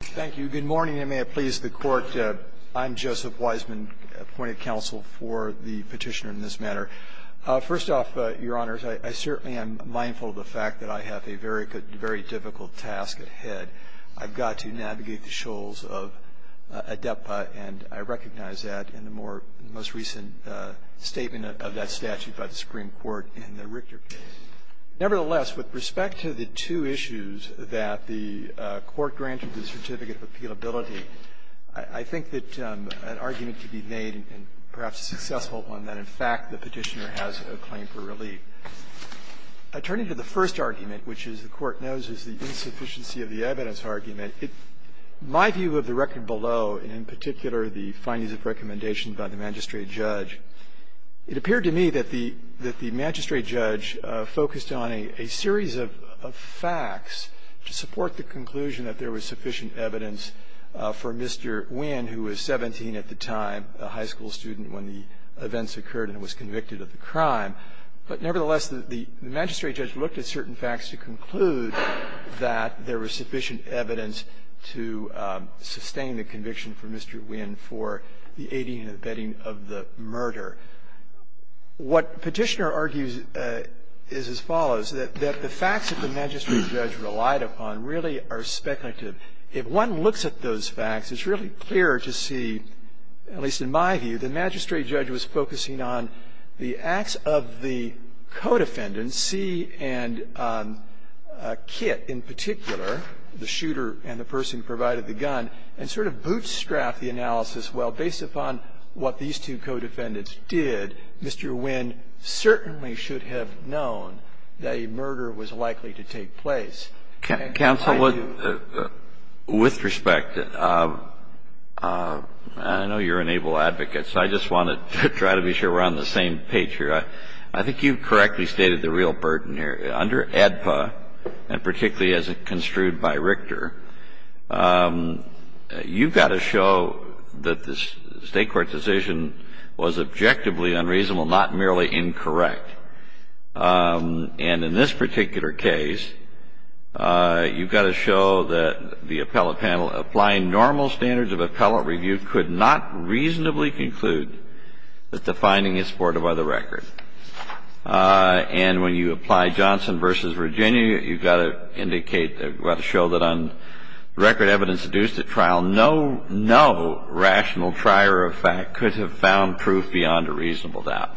Thank you. Good morning, and may it please the Court. I'm Joseph Wiseman, appointed counsel for the petitioner in this matter. First off, Your Honors, I certainly am mindful of the fact that I have a very difficult task ahead. I've got to navigate the shoals of ADEPPA, and I recognize that in the most recent statement of that statute by the Supreme Court in the Richter case. Nevertheless, with respect to the two issues that the Court granted the certificate of appealability, I think that an argument could be made, and perhaps a successful one, that in fact the petitioner has a claim for relief. I turn to the first argument, which, as the Court knows, is the insufficiency of the evidence argument. My view of the record below, and in particular the findings of recommendation by the magistrate judge, it appeared to me that the magistrate judge focused on a series of facts to support the conclusion that there was sufficient evidence for Mr. Nguyen, who was 17 at the time, a high school student when the events occurred and was convicted of the crime. But nevertheless, the magistrate judge looked at certain facts to conclude that there was sufficient evidence to sustain the conviction for Mr. Nguyen for the aiding and abetting of the murder. What Petitioner argues is as follows, that the facts that the magistrate judge relied upon really are speculative. If one looks at those facts, it's really clear to see, at least in my view, the magistrate judge was focusing on the acts of the co-defendants, C and Kitt in particular, the shooter and the person who provided the gun, and sort of bootstrap the analysis, well, based upon what these two co-defendants did, Mr. Nguyen certainly should have known that a murder was likely to take place. Counsel, with respect, I know you're an able advocate, so I just want to try to be sure we're on the same page here. I think you correctly stated the real burden here. Under AEDPA, and particularly as construed by Richter, you've got to show that the State court decision was objectively unreasonable, not merely incorrect. And in this particular case, you've got to show that the appellate panel applying normal standards of appellate review could not reasonably conclude that the finding is supportive of the record. And when you apply Johnson v. Virginia, you've got to indicate, you've got to show that on record evidence deduced at trial, no rational prior effect could have found proof beyond a reasonable doubt.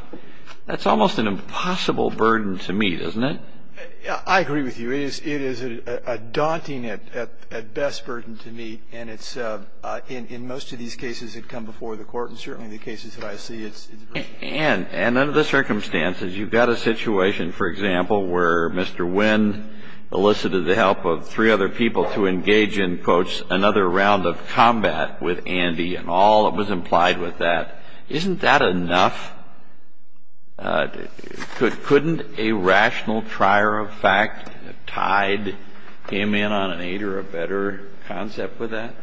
That's almost an impossible burden to meet, isn't it? I agree with you. It is a daunting, at best, burden to meet, and it's, in most of these cases that come before the Court, and certainly the cases that I see, it's a burden. And under the circumstances, you've got a situation, for example, where Mr. Nguyen elicited the help of three other people to engage in, quote, another round of combat with Andy, and all that was implied with that. Isn't that enough? Couldn't a rational prior effect, a tide, came in on an aid or a better concept with that?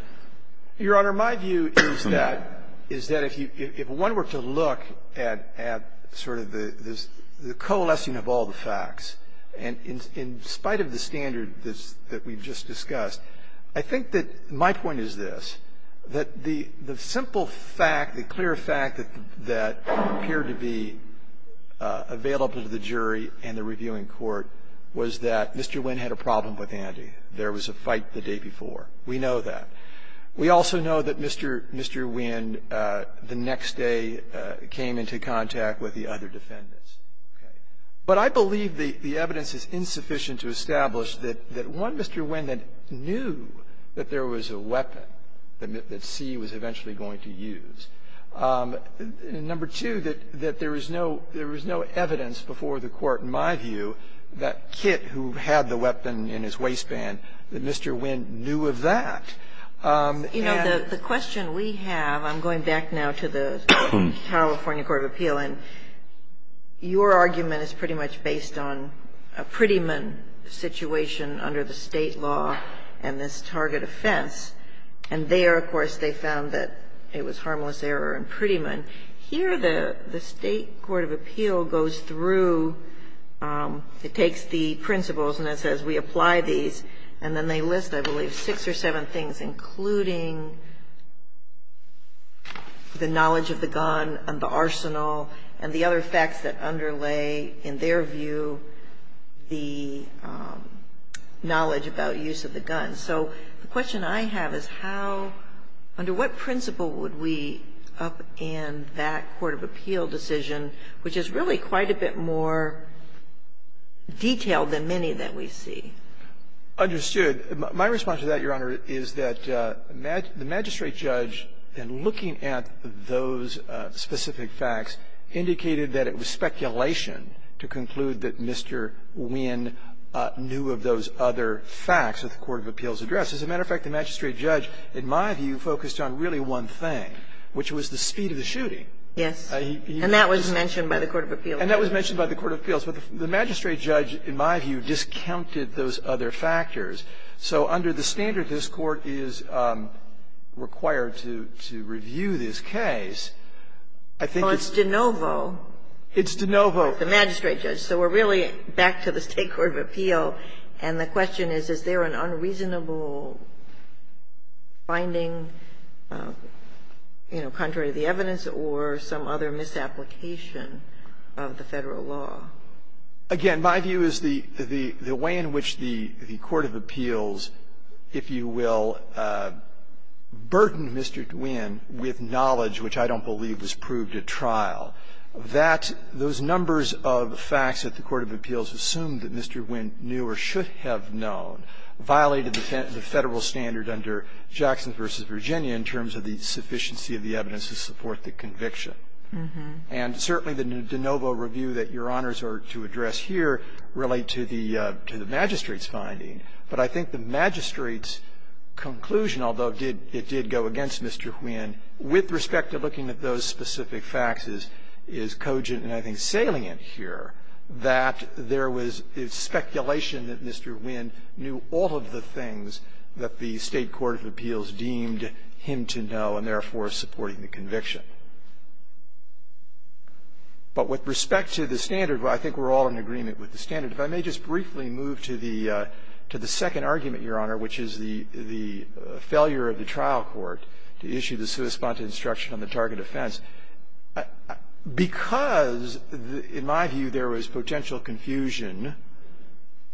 Your Honor, my view is that, is that if one were to look at sort of the coalescing of all the facts, and in spite of the standard that we've just discussed, I think that my point is this, that the simple fact, the clear fact that appeared to be available to the jury and the reviewing court was that Mr. Nguyen had a problem with Andy. There was a fight the day before. We know that. We also know that Mr. Nguyen, the next day, came into contact with the other defendants. But I believe the evidence is insufficient to establish that one Mr. Nguyen that Mr. Nguyen knew that there was a weapon that C was eventually going to use. Number two, that there was no evidence before the Court, in my view, that Kit, who had the weapon in his waistband, that Mr. Nguyen knew of that. And the question we have, I'm going back now to the California Court of Appeal, and your argument is pretty much based on a Prettyman situation under the State law and this target offense. And there, of course, they found that it was harmless error in Prettyman. Here, the State Court of Appeal goes through, it takes the principles, and it says, we apply these, and then they list, I believe, six or seven things, including the knowledge of the gun and the arsenal and the other facts that underlay, in their view, the knowledge about use of the gun. So the question I have is how, under what principle would we upend that court of appeal decision, which is really quite a bit more detailed than many that we see? Understood. My response to that, Your Honor, is that the magistrate judge, in looking at those specific facts, indicated that it was speculation to conclude that Mr. Nguyen knew of those other facts that the court of appeals addressed. As a matter of fact, the magistrate judge, in my view, focused on really one thing, which was the speed of the shooting. Yes. And that was mentioned by the court of appeals. And that was mentioned by the court of appeals. But the magistrate judge, in my view, discounted those other factors. So under the standard this Court is required to review this case, I think it's Well, it's de novo. It's de novo. The magistrate judge. So we're really back to the State court of appeal. And the question is, is there an unreasonable finding, you know, contrary to the evidence or some other misapplication of the Federal law? Again, my view is the way in which the court of appeals, if you will, burdened Mr. Nguyen with knowledge, which I don't believe was proved at trial, that those numbers of facts that the court of appeals assumed that Mr. Nguyen knew or should have known violated the Federal standard under Jackson v. Virginia in terms of the sufficiency of the evidence to support the conviction. And certainly the de novo review that Your Honors are to address here relate to the magistrate's finding. But I think the magistrate's conclusion, although it did go against Mr. Nguyen, with respect to looking at those specific facts is cogent and I think salient here that there was speculation that Mr. Nguyen knew all of the things that the State court of appeals deemed him to know and therefore supporting the conviction. But with respect to the standard, I think we're all in agreement with the standard. If I may just briefly move to the second argument, Your Honor, which is the failure of the trial court to issue the sua sponta instruction on the target offense. Because in my view there was potential confusion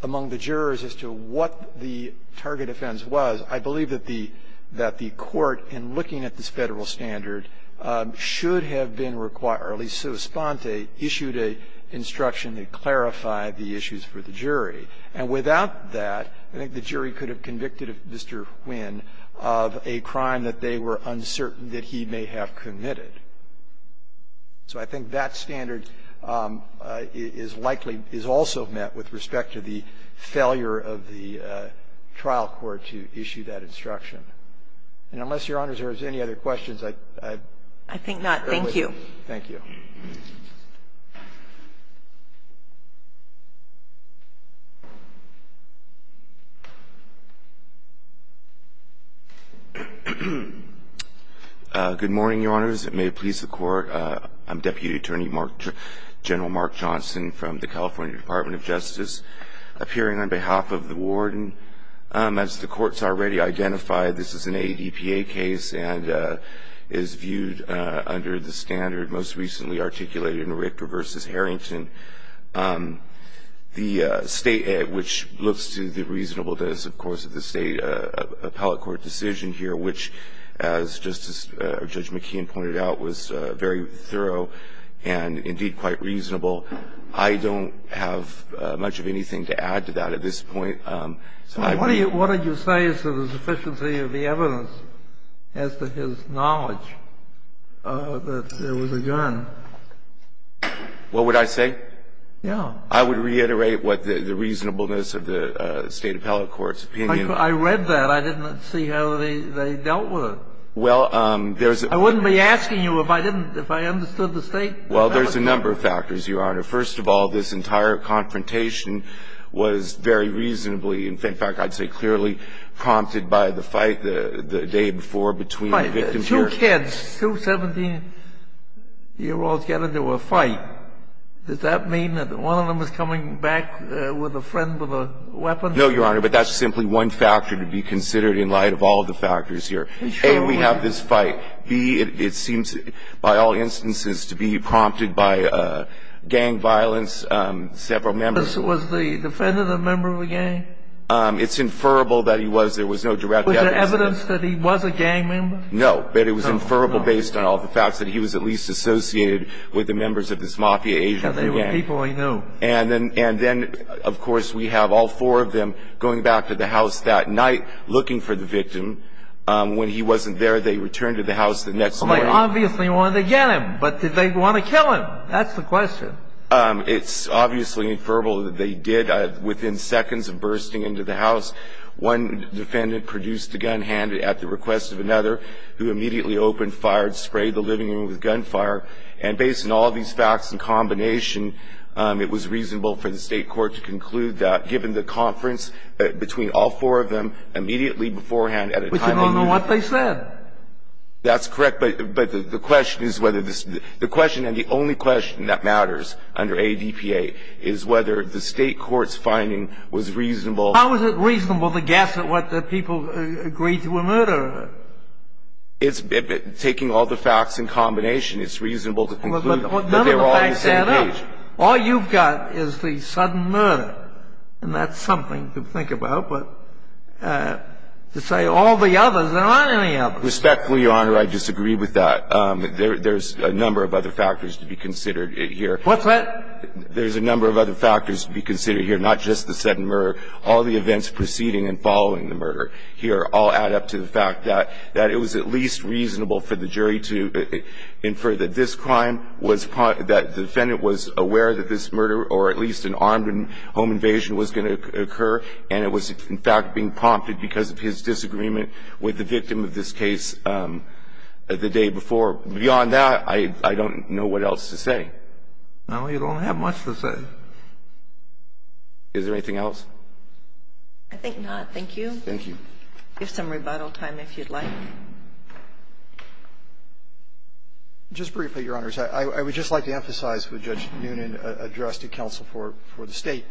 among the jurors as to what the target offense was, I believe that the court, in looking at this Federal standard, should have been required, or at least sua sponta issued an instruction that clarified the issues for the jury. And without that, I think the jury could have convicted Mr. Nguyen of a crime that they were uncertain that he may have committed. So I think that standard is likely, is also met with respect to the failure of the trial court to issue that instruction. And unless, Your Honors, there's any other questions, I think we're with you. I think not. Thank you. Thank you. Good morning, Your Honors. It may please the Court. I'm Deputy Attorney General Mark Johnson from the California Department of Justice, appearing on behalf of the warden. As the Court's already identified, this is an ADPA case and is viewed under the standard most recently articulated in Richter v. Harrington. The State, which looks to the reasonable, that is, of course, the State appellate court decision here, which, as Judge McKeon pointed out, was very thorough and, indeed, quite reasonable. I don't have much of anything to add to that at this point. What would you say is the sufficiency of the evidence as to his knowledge that there was a gun? What would I say? Yeah. I would reiterate what the reasonableness of the State appellate court's opinion I read that. I didn't see how they dealt with it. Well, there's I wouldn't be asking you if I didn't, if I understood the State appellate court. Well, there's a number of factors, Your Honor. First of all, this entire confrontation was very reasonably, in fact, I'd say clearly prompted by the fight the day before between the victims here. Two kids, two 17-year-olds get into a fight. Does that mean that one of them is coming back with a friend with a weapon? No, Your Honor, but that's simply one factor to be considered in light of all the factors here. A, we have this fight. B, it seems by all instances to be prompted by gang violence, several members. Was the defendant a member of a gang? It's inferrable that he was. There was no direct evidence. Was there evidence that he was a gang member? No, but it was inferrable based on all the facts that he was at least associated with the members of this mafia agent gang. Because they were people he knew. And then, of course, we have all four of them going back to the house that night looking for the victim. When he wasn't there, they returned to the house the next morning. Well, they obviously wanted to get him, but did they want to kill him? That's the question. It's obviously inferrable that they did. Within seconds of bursting into the house, one defendant produced a gun, handed it at the request of another, who immediately opened fire and sprayed the living room with gunfire. And based on all these facts in combination, it was reasonable for the State Court to conclude that, between all four of them, immediately beforehand at a time when they knew. But you don't know what they said. That's correct. But the question is whether the question, and the only question that matters under ADPA, is whether the State Court's finding was reasonable. How is it reasonable to guess at what the people agreed to a murder? It's taking all the facts in combination. It's reasonable to conclude that they were all on the same page. All you've got is the sudden murder, and that's something to think about. But to say all the others, there aren't any others. Respectfully, Your Honor, I disagree with that. There's a number of other factors to be considered here. What's that? There's a number of other factors to be considered here, not just the sudden murder. All the events preceding and following the murder here all add up to the fact that it was at least reasonable for the jury to infer that this crime was part of the defendant was aware that this murder, or at least an armed home invasion, was going to occur, and it was, in fact, being prompted because of his disagreement with the victim of this case the day before. Beyond that, I don't know what else to say. No, you don't have much to say. Is there anything else? I think not. Thank you. Thank you. Give some rebuttal time if you'd like. Just briefly, Your Honors, I would just like to emphasize what Judge Noonan addressed to counsel for the State.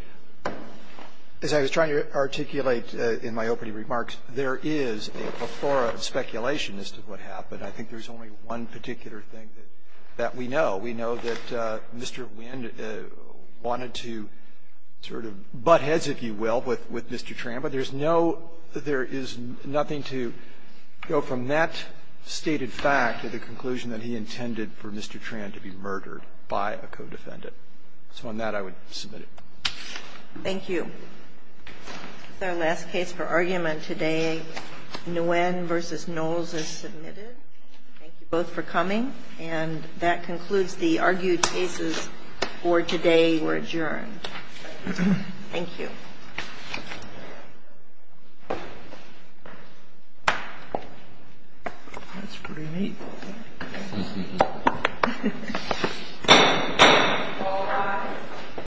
As I was trying to articulate in my opening remarks, there is a plethora of speculation as to what happened. I think there's only one particular thing that we know. We know that Mr. Winn wanted to sort of butt heads, if you will, with Mr. Tramba. But there's no – there is nothing to go from that stated fact to the conclusion that he intended for Mr. Tramba to be murdered by a co-defendant. So on that, I would submit it. Thank you. This is our last case for argument today. Nguyen v. Knowles is submitted. Thank you both for coming. And that concludes the argued cases for today were adjourned. Thank you. Thank you. That's pretty neat.